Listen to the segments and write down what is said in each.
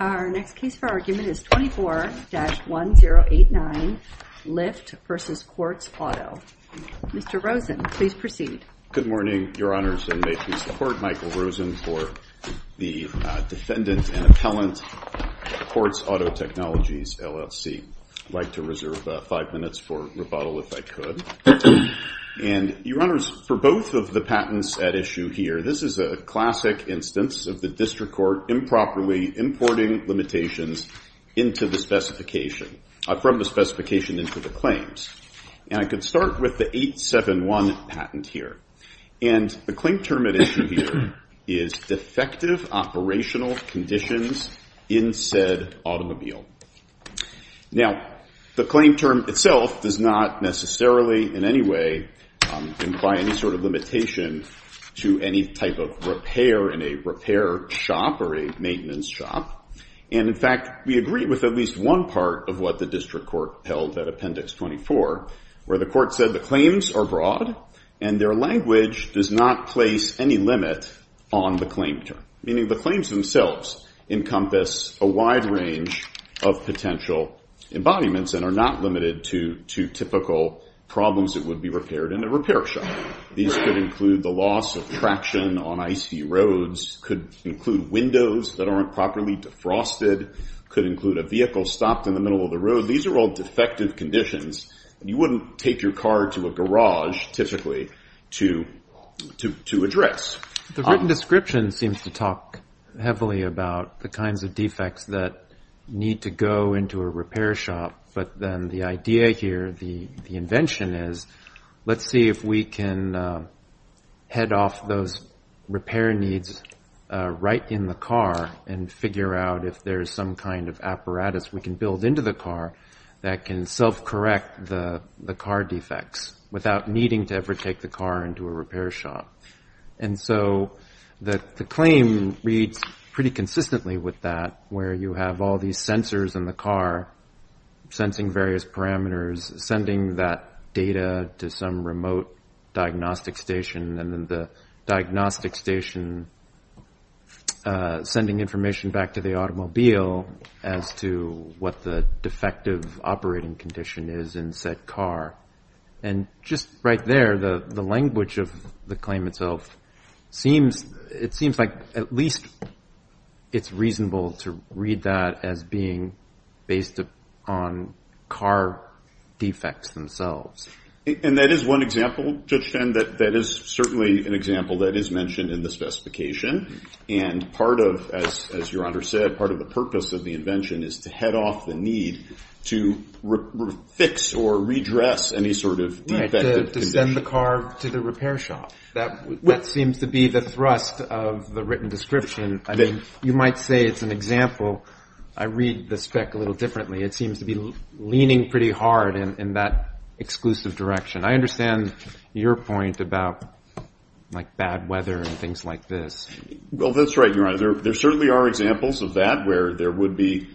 Our next case for argument is 24-1089, Lyft v. Quartz Auto. Mr. Rosen, please proceed. Good morning, Your Honors, and may please support Michael Rosen for the Defendant and Appellant Quartz Auto Technologies LLC. I'd like to reserve five minutes for rebuttal, if I could. And Your Honors, for both of the patents at issue here, this is a classic instance of the district court improperly importing limitations from the specification into the claims. And I could start with the 871 patent here. And the claim term at issue here is defective operational conditions in said automobile. Now, the claim term itself does not necessarily, in any way, imply any sort of limitation to any type of repair in a repair shop or a maintenance shop. And in fact, we agree with at least one part of what the district court held at Appendix 24, where the court said the claims are broad and their language does not place any limit on the claim term, meaning the claims themselves encompass a wide range of potential embodiments and are not limited to typical problems that would be repaired in a repair shop. These could include the loss of traction on icy roads, could include windows that aren't properly defrosted, could include a vehicle stopped in the middle of the road. These are all defective conditions. You wouldn't take your car to a garage, typically, to address. The written description seems to talk heavily about the kinds of defects that need to go into a repair shop. But then the idea here, the invention is, let's see if we can head off those repair needs right in the car and figure out if there is some kind of apparatus we can build into the car that can self-correct the car defects without needing to ever take the car into a repair shop. And so the claim reads pretty consistently with that, where you have all these sensors in the car, sensing various parameters, sending that data to some remote diagnostic station, and then the diagnostic station sending information back to the automobile as to what the defective operating condition is in said car. And just right there, the language of the claim itself, it seems like at least it's reasonable to read that as being based on car defects themselves. And that is one example, Judge Fenn, that is certainly an example that is mentioned in the specification. And part of, as Your Honor said, part of the purpose of the invention is to head off the need to fix or redress any sort of defective condition. To send the car to the repair shop. That seems to be the thrust of the written description. You might say it's an example. I read the spec a little differently. It seems to be leaning pretty hard in that exclusive direction. I understand your point about bad weather and things like this. Well, that's right, Your Honor. There certainly are examples of that, where there would be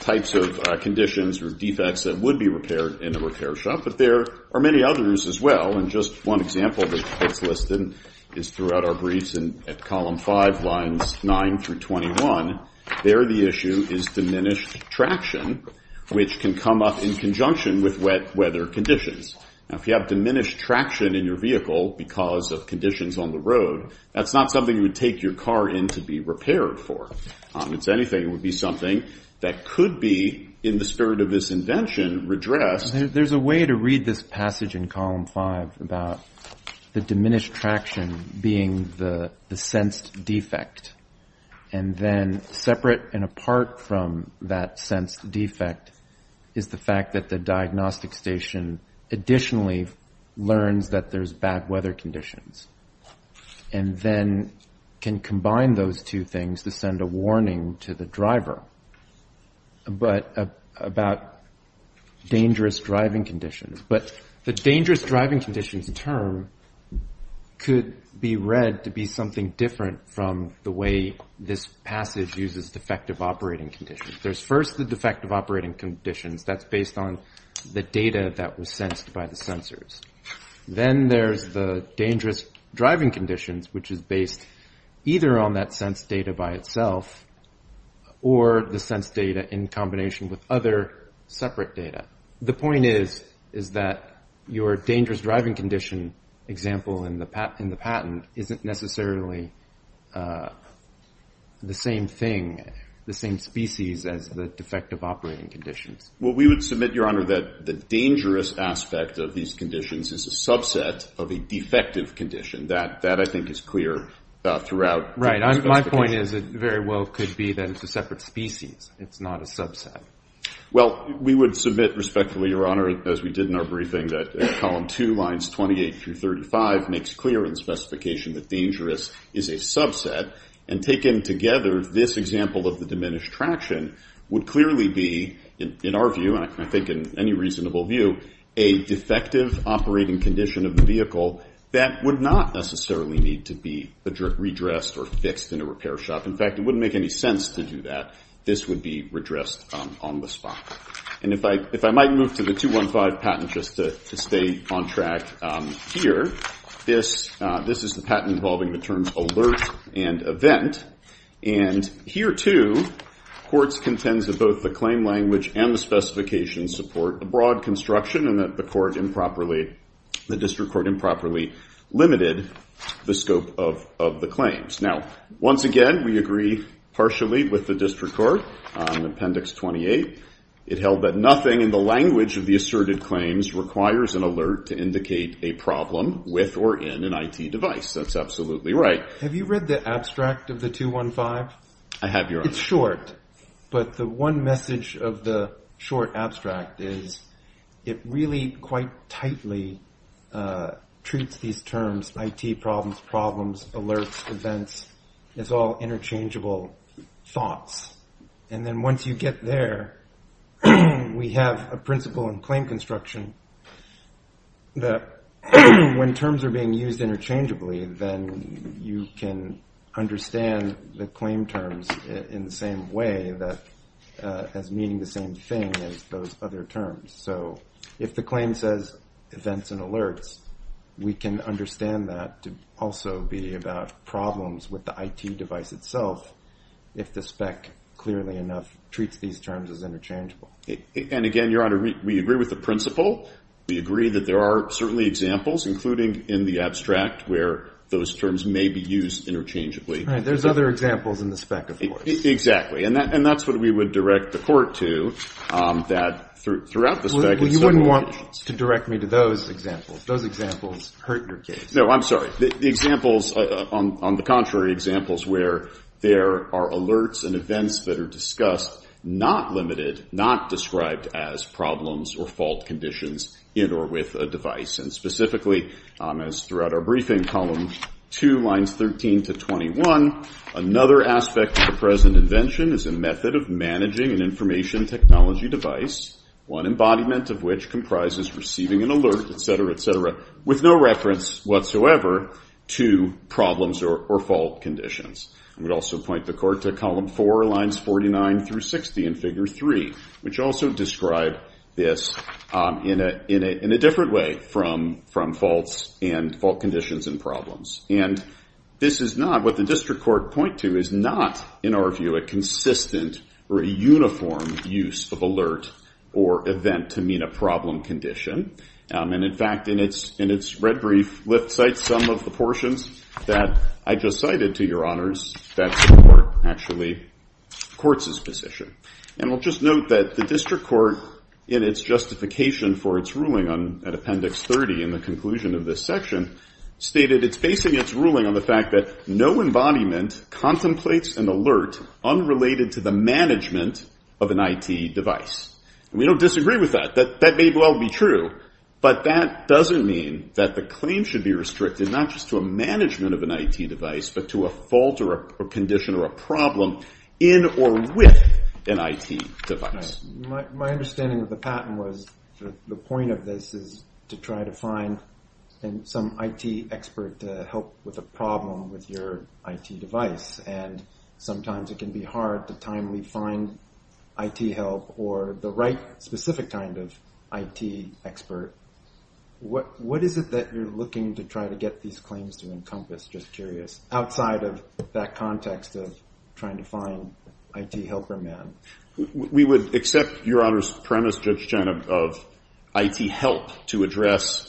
types of conditions or defects that would be repaired in a repair shop. But there are many others as well. And just one example that's listed is throughout our briefs at column 5, lines 9 through 21. There the issue is diminished traction, which can come up in conjunction with wet weather conditions. Now, if you have diminished traction in your vehicle because of conditions on the road, that's not something you would take your car in to be repaired for. It's anything that would be something that could be, in the spirit of this invention, redressed. There's a way to read this passage in column 5 about the diminished traction being the sensed defect. And then separate and apart from that sensed defect is the fact that the diagnostic station additionally learns that there's bad weather conditions and then can combine those two things to send a warning to the driver about dangerous driving conditions. But the dangerous driving conditions term could be read to be something different from the way this passage uses defective operating conditions. There's first the defective operating conditions. That's based on the data that was sensed by the sensors. Then there's the dangerous driving conditions, which is based either on that sensed data by itself or the sensed data in combination with other separate data. The point is that your dangerous driving condition example in the patent isn't necessarily the same thing, the same species, as the defective operating conditions. Well, we would submit, Your Honor, that the dangerous aspect of these conditions is a subset of a defective condition. That, I think, is clear throughout. Right. My point is it very well could be that it's a separate species. It's not a subset. Well, we would submit respectfully, Your Honor, as we did in our briefing, that column two, lines 28 through 35 makes clear in the specification that dangerous is a subset. And taken together, this example of the diminished traction would clearly be, in our view, and I think in any reasonable view, a defective operating condition of the vehicle that would not necessarily need to be redressed or fixed in a repair shop. In fact, it wouldn't make any sense to do that. This would be redressed on the spot. And if I might move to the 215 patent just to stay on track here, this is the patent involving the terms alert and event. And here, too, courts contends that both the claim language and the specifications support a broad construction and that the district court improperly limited the scope of the claims. Now, once again, we agree partially with the district court on appendix 28. It held that nothing in the language of the asserted claims requires an alert to indicate a problem with or in an IT device. That's absolutely right. Have you read the abstract of the 215? I have, Your Honor. It's short, but the one message of the short abstract is it really quite tightly treats these terms IT problems, problems, alerts, events as all interchangeable thoughts. And then once you get there, we have a principle in claim construction that when terms are being used interchangeably, then you can understand the claim terms in the same way that as meaning the same thing as those other terms. So if the claim says events and alerts, we can understand that to also be about problems with the IT device itself if the spec, clearly enough, treats these terms as interchangeable. And again, Your Honor, we agree with the principle. We agree that there are certainly examples, including in the abstract, where those terms may be used interchangeably. There's other examples in the spec, of course. Exactly. And that's what we would direct the court to, that throughout the spec, it's several occasions. Well, you wouldn't want to direct me to those examples. Those examples hurt your case. No, I'm sorry. The examples, on the contrary, examples where there are alerts and events that are discussed, not limited, not described as problems or fault conditions in or with a device. And specifically, as throughout our briefing, column two, lines 13 to 21, another aspect of the present invention is a method of managing an information technology device, one embodiment of which comprises receiving an alert, et cetera, et cetera, with no reference whatsoever to problems or fault conditions. We would also point the court to column four, lines 49 through 60 in figure three, which also describe this in a different way from faults and fault conditions and problems. And this is not what the district court point to is not, in our view, a consistent or a uniform use of alert or event to mean a problem condition. And in fact, in its red brief, Lyft cites some of the portions that I just cited to your honors that support, actually, courts' position. And I'll just note that the district court, in its justification for its ruling at appendix 30 in the conclusion of this section, stated it's basing its ruling on the fact that no embodiment contemplates an alert unrelated to the management of an IT device. And we don't disagree with that. That may well be true, but that doesn't mean that the claim should be restricted not just to a management of an IT device, but to a fault or a condition or a problem in or with an IT device. My understanding of the patent was the point of this is to try to find some IT expert to help with a problem with your IT device. And sometimes it can be hard to timely find IT help or the right specific kind of IT expert. What is it that you're looking to try to get these claims to encompass? Just curious, outside of that context of trying to find IT helper man. We would accept your honor's premise, Judge Chen, of IT help to address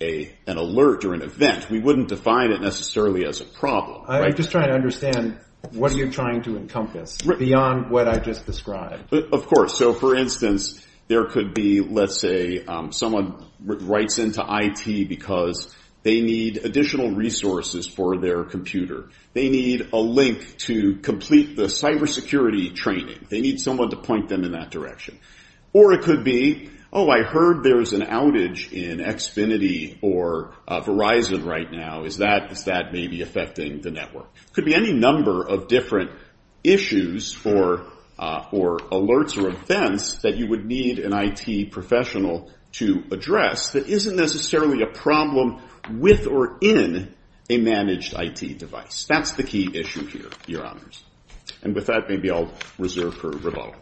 an alert or an event. We wouldn't define it necessarily as a problem. I'm just trying to understand what are you trying to encompass beyond what I just described. Of course. So for instance, there could be, let's say, someone writes into IT because they need additional resources for their computer. They need a link to complete the cybersecurity training. They need someone to point them in that direction. Or it could be, oh, I heard there's an outage in Xfinity or Verizon right now. Is that maybe affecting the network? Could be any number of different issues for alerts or events that you would need an IT professional to address that isn't necessarily a problem with or in a managed IT device. That's the key issue here, your honors. And with that, maybe I'll reserve for rebuttal.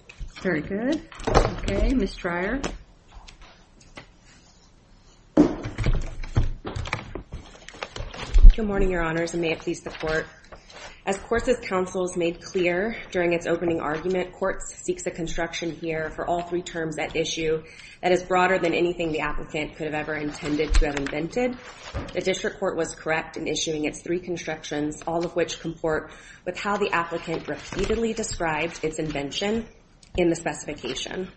Very good. OK, Ms. Dreyer. Good morning, your honors. And may it please the court. As Courses Council has made clear during its opening argument, courts seeks a construction here for all three terms that issue that is broader than anything the applicant could have ever intended to have invented. The district court was correct in issuing its three constructions, all of which comport with how the applicant repeatedly described its invention in the specification.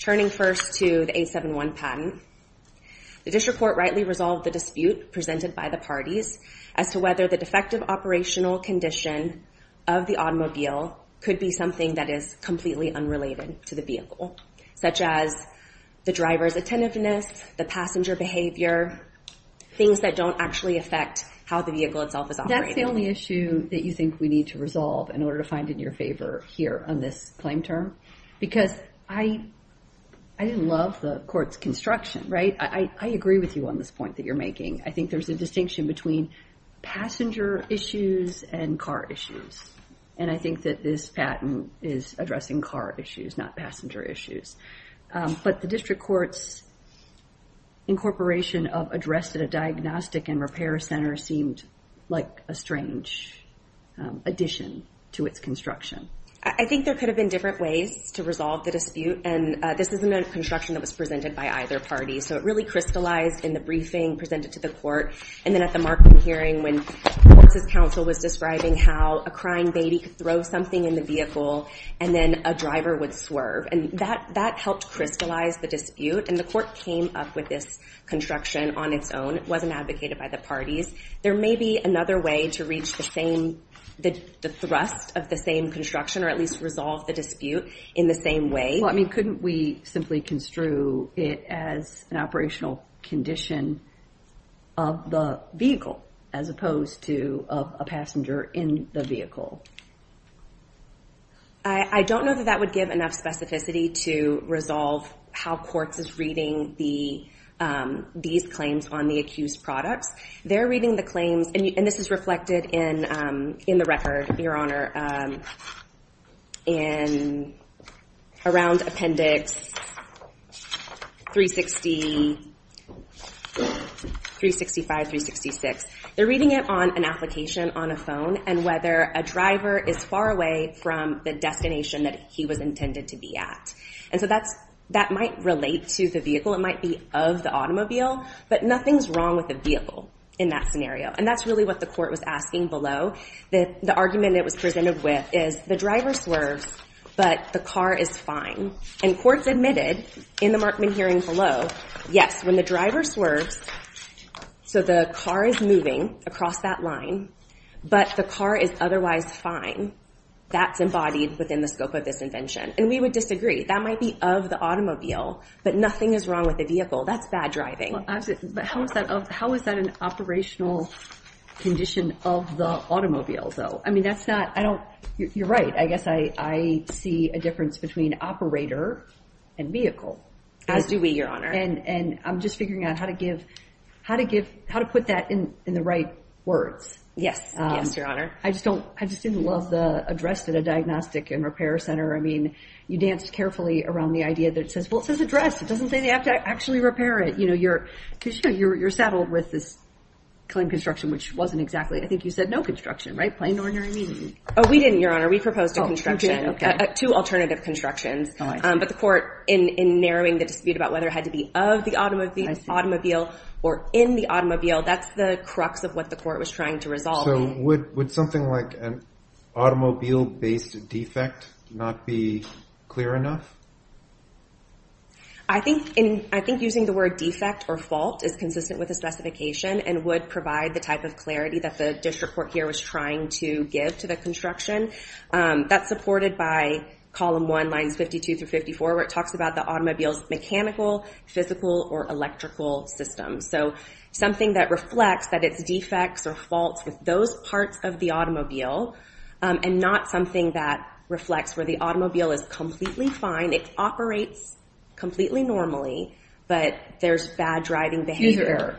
Turning first to the 871 patent, the district court rightly resolved the dispute presented by the parties as to whether the defective operational condition of the automobile could be something that is completely unrelated to the vehicle, such as the driver's attentiveness, the passenger behavior, things that don't actually affect how the vehicle itself is operating. That's the only issue that you think we need to resolve in order to find it in your favor here on this claim term. Because I love the court's construction, right? I agree with you on this point that you're making. I think there's a distinction between passenger issues and car issues. And I think that this patent is addressing car issues, not passenger issues. But the district court's incorporation of addressed at a diagnostic and repair center seemed like a strange addition to its construction. I think there could have been different ways to resolve the dispute. And this isn't a construction that was presented by either party. So it really crystallized in the briefing presented to the court. And then at the Markham hearing, when the courts' counsel was describing how a crying baby could throw something in the vehicle, and then a driver would swerve. And that helped crystallize the dispute. And the court came up with this construction on its own. It wasn't advocated by the parties. There may be another way to reach the thrust of the same construction, or at least resolve the dispute in the same way. Couldn't we simply construe it as an operational condition of the vehicle, as opposed to a passenger in the vehicle? I don't know that that would give enough specificity to resolve how courts is reading these claims on the accused products. They're reading the claims, and this is reflected in the record, Your Honor, and around Appendix 365, 366. They're reading it on an application on a phone, and whether a driver is far away from the destination that he was intended to be at. And so that might relate to the vehicle. It might be of the automobile. But nothing's wrong with the vehicle in that scenario. And that's really what the court was asking below. The argument that was presented with is the driver swerves, but the car is fine. And courts admitted in the Markman hearing below, yes, when the driver swerves, so the car is moving across that line, but the car is otherwise fine. That's embodied within the scope of this invention. And we would disagree. That might be of the automobile, but nothing is wrong with the vehicle. That's bad driving. But how is that an operational condition of the automobile, though? I mean, that's not, I don't, you're right. I guess I see a difference between operator and vehicle. As do we, Your Honor. And I'm just figuring out how to give, how to give, how to put that in the right words. Yes, yes, Your Honor. I just don't, I just didn't love the address to the diagnostic and repair center. I mean, you danced carefully around the idea that says, well, it says address. It doesn't say they have to actually repair it. Because you're saddled with this claim of construction, which wasn't exactly, I think you said no construction, right? Plain ordinary meaning. Oh, we didn't, Your Honor. We proposed a construction, two alternative constructions. But the court, in narrowing the dispute about whether it had to be of the automobile or in the automobile, that's the crux of what the court was trying to resolve. So would something like an automobile-based defect not be clear enough? I think using the word defect or fault is consistent with the specification and would provide the type of clarity that the district court here was trying to give to the construction. That's supported by column one, lines 52 through 54, where it talks about the automobile's mechanical, physical, or electrical systems. So something that reflects that it's defects or faults with those parts of the automobile, and not something that reflects where the automobile is completely fine. It operates completely normally, but there's bad driving behavior.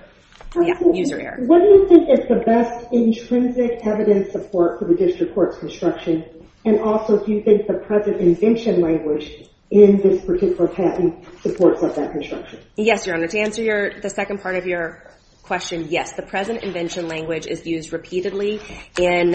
Yeah, user error. What do you think is the best intrinsic evidence support for the district court's construction? And also, do you think the present invention language in this particular patent supports up that construction? Yes, Your Honor. To answer the second part of your question, yes. The present invention language is used repeatedly in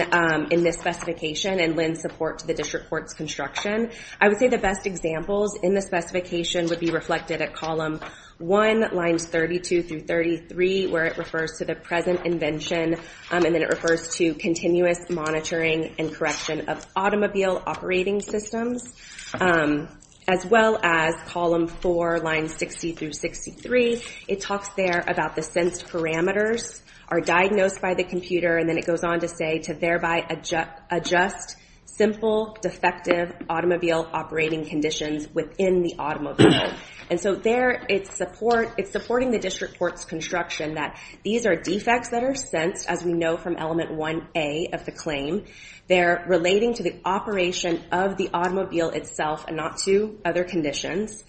this specification and lends support to the district court's construction. I would say the best examples in the specification would be reflected at column one, lines 32 through 33, where it refers to the present invention. And then it refers to continuous monitoring and correction of automobile operating systems, as well as column four, lines 60 through 63. It talks there about the sensed parameters are diagnosed by the computer. And then it goes on to say to thereby adjust simple, defective automobile operating conditions within the automobile. And so there, it's supporting the district court's construction that these are defects that are sensed, as we know from element 1A of the claim. They're relating to the operation of the automobile itself and not to other conditions.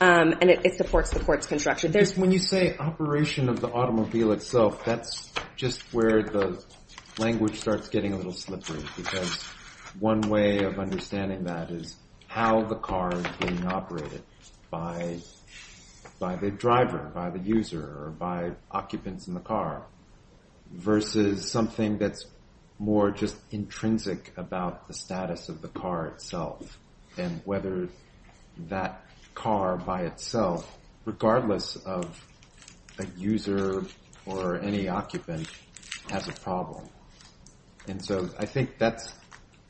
And it supports the court's construction. When you say operation of the automobile itself, that's just where the language starts getting a little One way of understanding that is how the car is being operated by the driver, by the user, or by occupants in the car, versus something that's more just intrinsic about the status of the car itself and whether that car by itself, regardless of a user or any occupant, has a problem. And so I think that's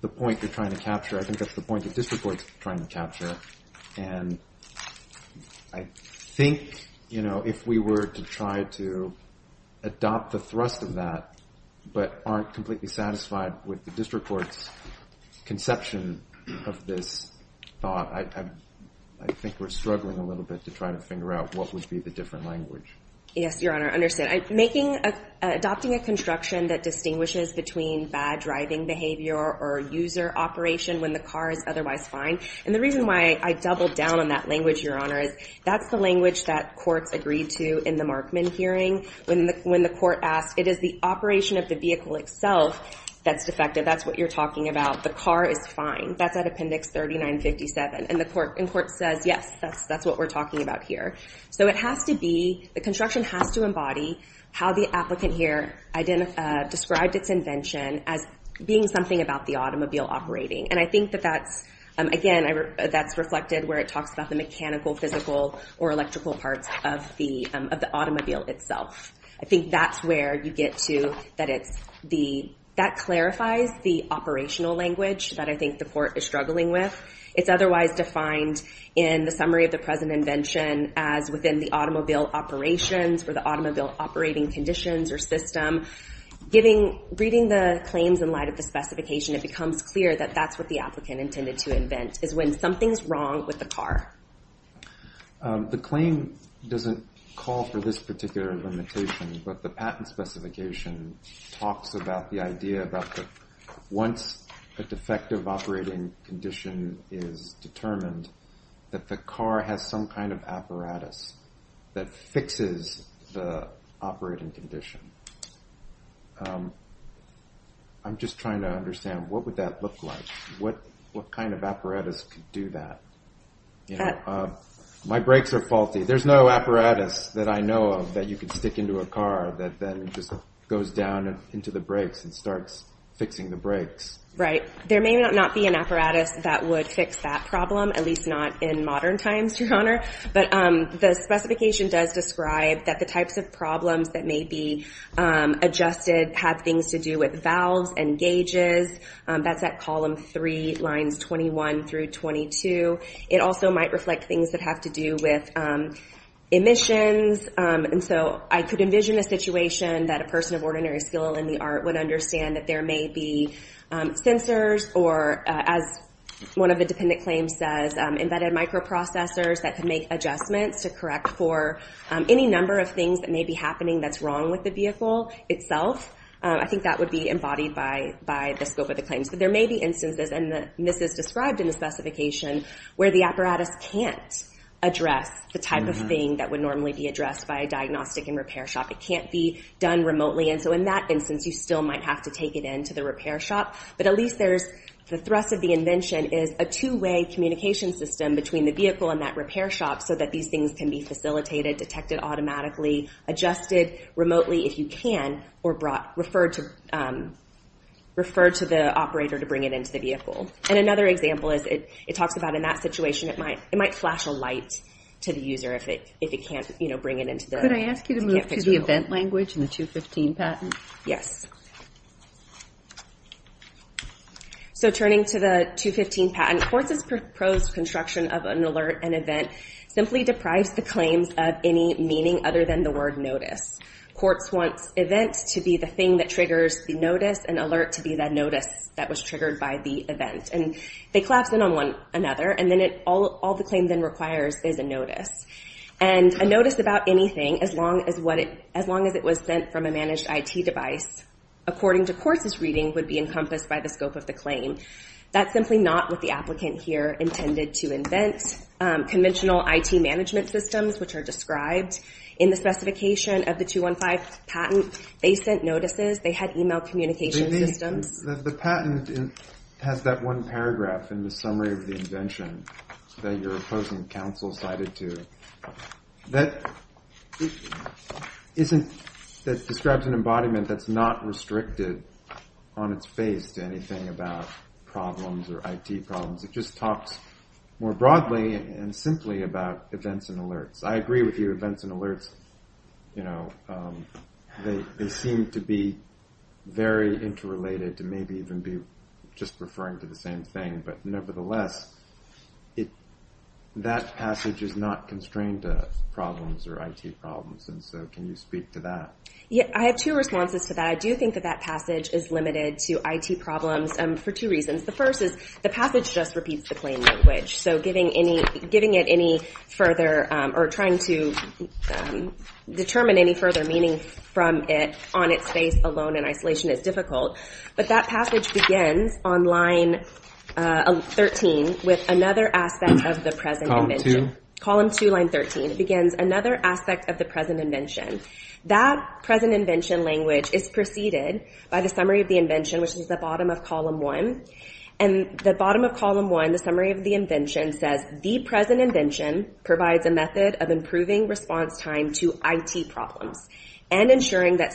the point you're trying to capture. I think that's the point the district court's trying to capture. And I think if we were to try to adopt the thrust of that but aren't completely satisfied with the district court's conception of this thought, I think we're struggling a little bit to try to figure out what would be the different language. Yes, Your Honor, I understand. Adopting a construction that distinguishes between bad driving behavior or user operation when the car is otherwise fine. And the reason why I doubled down on that language, Your Honor, is that's the language that courts agreed to in the Markman hearing. When the court asked, it is the operation of the vehicle itself that's defective. That's what you're talking about. The car is fine. That's at Appendix 3957. And the court says, yes, that's what we're talking about here. So the construction has to embody how the applicant here described its invention as being something about the automobile operating. And I think that that's, again, that's reflected where it talks about the mechanical, physical, or electrical parts of the automobile itself. I think that's where you get to that it's the, that clarifies the operational language that I think the court is struggling with. It's otherwise defined in the summary of the present invention as within the automobile operations or the automobile operating conditions or system. Reading the claims in light of the specification, it becomes clear that that's what the applicant intended to invent, is when something's wrong with the car. The claim doesn't call for this particular limitation. But the patent specification talks about the idea about once a defective operating condition is determined, that the car has some kind of apparatus that fixes the operating condition. I'm just trying to understand, what would that look like? What kind of apparatus could do that? My brakes are faulty. There's no apparatus that I know of that you could stick into a car that then just goes down into the brakes and starts fixing the brakes. Right. There may not be an apparatus that would fix that problem, at least not in modern times, Your Honor. But the specification does describe that the types of problems that may be adjusted have things to do with valves and gauges. That's at column three, lines 21 through 22. It also might reflect things that have to do with emissions. And so I could envision a situation that a person of ordinary skill in the art would understand that there may be sensors or, as one of the dependent claims says, embedded microprocessors that could make adjustments to correct for any number of things that may be happening that's wrong with the vehicle itself. I think that would be embodied by the scope of the claims. But there may be instances, and this is described in the specification, where the apparatus can't address the type of thing that would normally be addressed by a diagnostic and repair shop. It can't be done remotely. And so in that instance, you still might have to take it into the repair shop. But at least there's the thrust of the invention is a two-way communication system between the vehicle and that repair shop so that these things can be facilitated, detected automatically, adjusted remotely if you can, or referred to the operator to bring it into the vehicle. And another example is it talks about in that situation, it might flash a light to the user if it can't bring it into the vehicle. Could I ask you to move to the event language in the 215 patent? Yes. So turning to the 215 patent, Quartz's proposed construction of an alert and event simply deprives the claims of any meaning other than the word notice. Quartz wants event to be the thing that triggers the notice, and alert to be that notice that was triggered by the event. And they collapse in on one another, and then all the claim then requires is a notice. And a notice about anything, as long as it was sent from a managed IT device, according to Quartz's reading, would be encompassed by the scope of the claim. That's simply not what the applicant here intended to invent. Conventional IT management systems, which are described in the specification of the 215 patent, they sent notices. They had email communication systems. The patent has that one paragraph in the summary of the invention that your opposing counsel cited to that describes an embodiment that's not restricted on its face to anything about problems or IT problems. It just talks more broadly and simply about events and alerts. I agree with you. Events and alerts, they seem to be very interrelated, to maybe even be just referring to the same thing. But nevertheless, that passage is not constrained to problems or IT problems. And so can you speak to that? I have two responses to that. I do think that that passage is limited to IT problems for two reasons. The first is the passage just repeats the claim language. So giving it any further, or trying to determine any further meaning from it on its face alone in isolation is difficult. But that passage begins on line 13 with another aspect of the present invention. Column two, line 13. It begins another aspect of the present invention. That present invention language is preceded by the summary of the invention, which is the bottom of column one. And the bottom of column one, the summary of the invention, says the present invention provides a method of improving response time to IT problems and ensuring that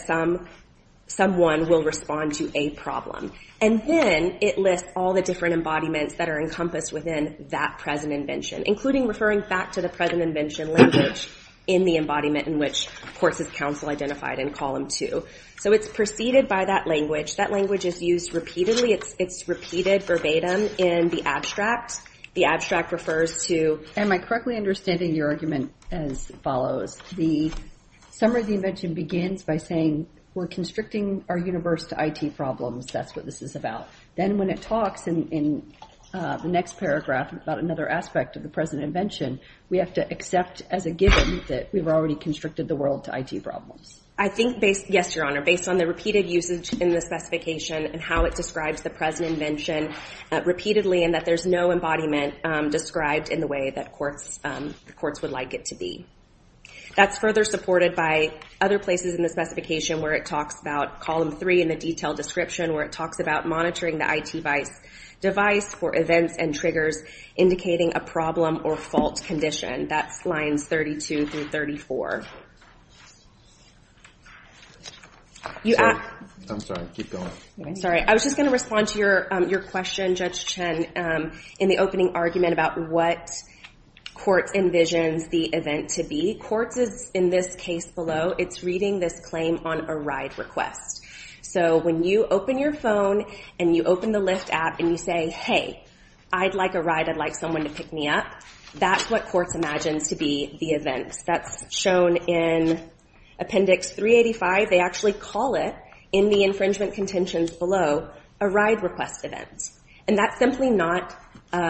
someone will respond to a problem. And then it lists all the different embodiments that are encompassed within that present invention, including referring back to the present invention language in the embodiment in which, of course, is counsel identified in column two. So it's preceded by that language. That language is used repeatedly. It's repeated verbatim in the abstract. The abstract refers to, am I correctly understanding your argument as follows? The summary of the invention begins by saying we're constricting our universe to IT problems. That's what this is about. Then when it talks in the next paragraph about another aspect of the present invention, we have to accept as a given that we've already constricted the world to IT problems. I think based, yes, Your Honor, based on the repeated usage in the specification and how it describes the present invention repeatedly and that there's no embodiment described in the way that courts would like it to be. That's further supported by other places in the specification where it talks about column three in the detailed description where it talks about monitoring the IT device for events and triggers indicating a problem or fault condition. That's lines 32 through 34. I'm sorry. Keep going. Sorry. I was just going to respond to your question, Judge Chen, in the opening argument about what courts envisions the event to be. Courts is, in this case below, it's reading this claim on a ride request. So when you open your phone and you open the Lyft app and you say, hey, I'd like a ride. I'd like someone to pick me up, that's what courts imagine to be the event. That's shown in appendix 385. They actually call it, in the infringement contentions below, a ride request event. And that's simply not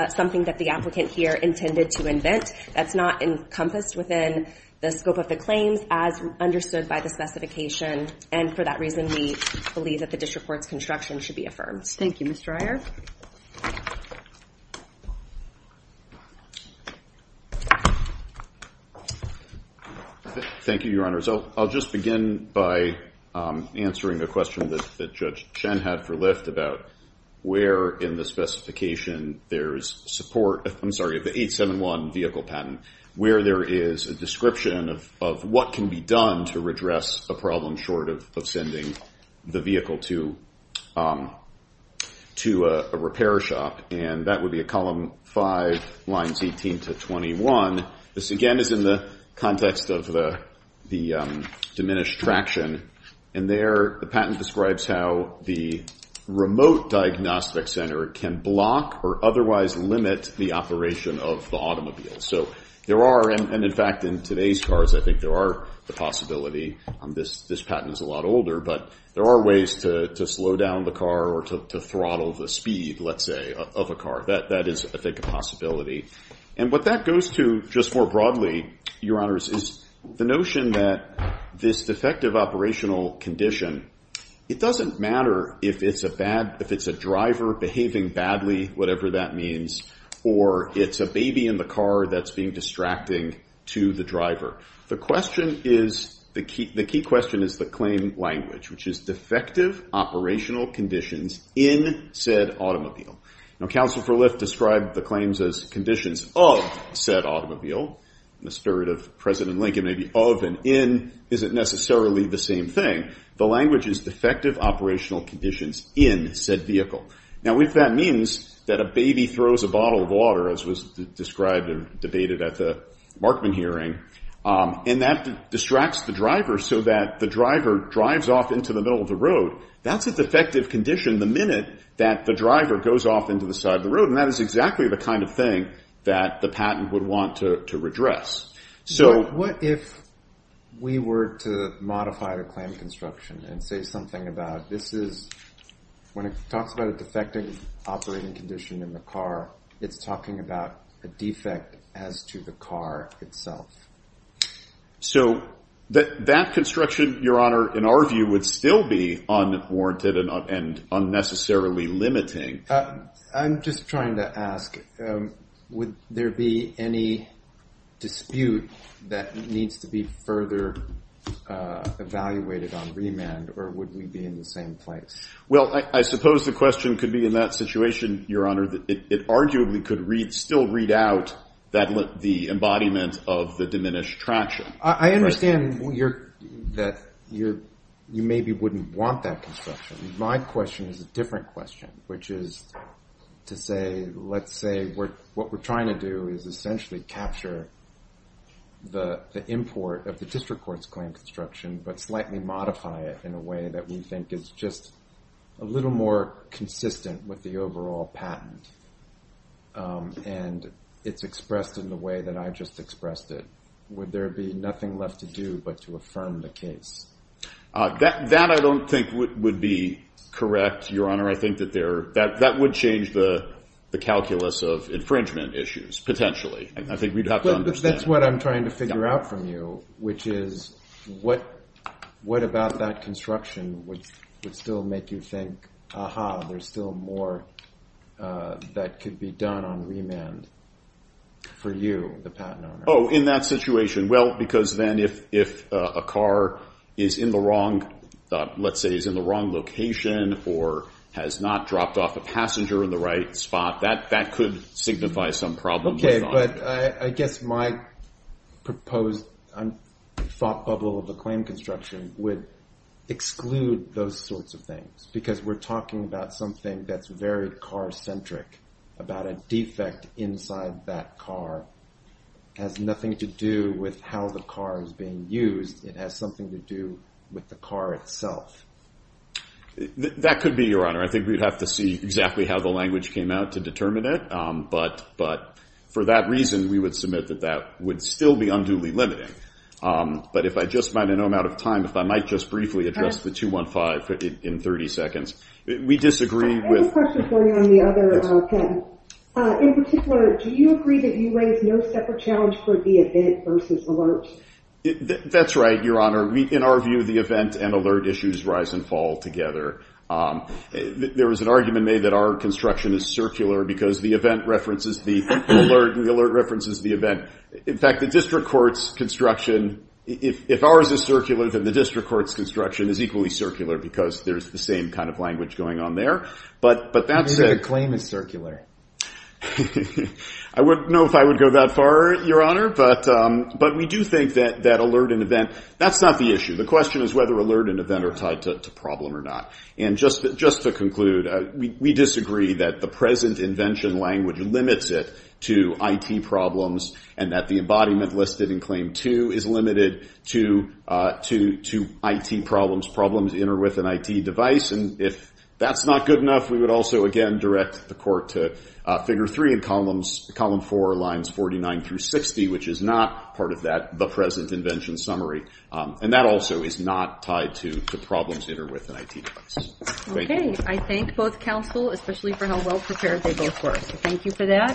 something that the applicant here intended to invent. That's not encompassed within the scope of the claims as understood by the specification. And for that reason, we believe that the district court's construction should be affirmed. Thank you, Mr. Iyer. Thank you, Your Honor. So I'll just begin by answering the question that Judge Chen had for Lyft about where, in the specification, there is support. I'm sorry, the 871 vehicle patent, where there is a description of what can be done to redress a problem short of sending the vehicle to a repair shop. And that would be a column 5, lines 18 to 21. This, again, is in the context of the diminished traction. And there, the patent describes how the remote diagnostic center can block or otherwise limit the operation of the automobile. So there are, and in fact, in today's cars, I think there are the possibility. This patent is a lot older. But there are ways to slow down the car or to throttle the speed, let's say, of a car. That is, I think, a possibility. And what that goes to, just more broadly, Your Honors, is the notion that this defective operational condition, it doesn't matter if it's a driver behaving badly, whatever that means, or it's a baby in the car that's being distracting to the driver. The question is, the key question is the claim language, which is defective operational conditions in said automobile. Now, Counsel for Lyft described the claims as conditions of said automobile. In the spirit of President Lincoln, maybe of and in isn't necessarily the same thing. The language is defective operational conditions in said vehicle. Now, if that means that a baby throws a bottle of water, as was described and debated at the Markman hearing, and that distracts the driver so that the driver drives off into the middle of the road, that's a defective condition the minute that the driver goes off into the side of the road. And that is exactly the kind of thing that the patent would want to redress. So what if we were to modify the claim construction and say something about this is, when it talks about a defective operating condition in the car, it's talking about a defect as to the car itself? So that construction, Your Honor, in our view, would still be unwarranted and unnecessarily limiting. I'm just trying to ask, would there be any dispute that needs to be further evaluated on remand, or would we be in the same place? Well, I suppose the question could be in that situation, Your Honor, that it arguably could still read out the embodiment of the diminished traction. I understand that you maybe wouldn't want that construction. My question is a different question, which is to say, let's say what we're trying to do is essentially capture the import of the district court's claim construction, but slightly modify it in a way that we think is just a little more consistent with the overall patent, and it's expressed in the way that I just expressed it. Would there be nothing left to do but to affirm the case? That I don't think would be correct, Your Honor. I think that would change the calculus of infringement issues, potentially. I think we'd have to understand. But that's what I'm trying to figure out from you, which is, what about that construction would still make you think, aha, there's still more that could be done on remand for you, the patent owner? Oh, in that situation. Well, because then if a car is in the wrong, let's say is in the wrong location, or has not dropped off a passenger in the right spot, that could signify some problem. OK, but I guess my proposed thought bubble of the claim construction would exclude those sorts of things. Because we're talking about something that's very car-centric, about a defect inside that car, has nothing to do with how the car is being used. It has something to do with the car itself. That could be, Your Honor. I think we'd have to see exactly how the language came out to determine it. But for that reason, we would submit that that would still be unduly limiting. But if I just might, in no amount of time, if I might just briefly address the 215 in 30 seconds. We disagree with- I have a question for you on the other patent. In particular, do you agree that you raise no separate challenge for the event versus alert? That's right, Your Honor. In our view, the event and alert issues rise and fall together. There was an argument made that our construction is circular, because the event references the alert, and the alert references the event. In fact, the district court's construction, if ours is circular, then the district court's construction is equally circular, because there's the same kind of language going on there. But that's it. You say the claim is circular. I wouldn't know if I would go that far, Your Honor. But we do think that alert and event, that's not the issue. The question is whether alert and event are tied to problem or not. And just to conclude, we disagree that the present invention language limits it to IT problems, and that the embodiment listed in claim two is limited to IT problems, problems in or with an IT device. And if that's not good enough, we would also, again, direct the court to figure three in column four, lines 49 through 60, which is not part of the present invention summary. And that also is not tied to problems in or with an IT device. OK. I thank both counsel, especially for how well-prepared they both were. Thank you for that.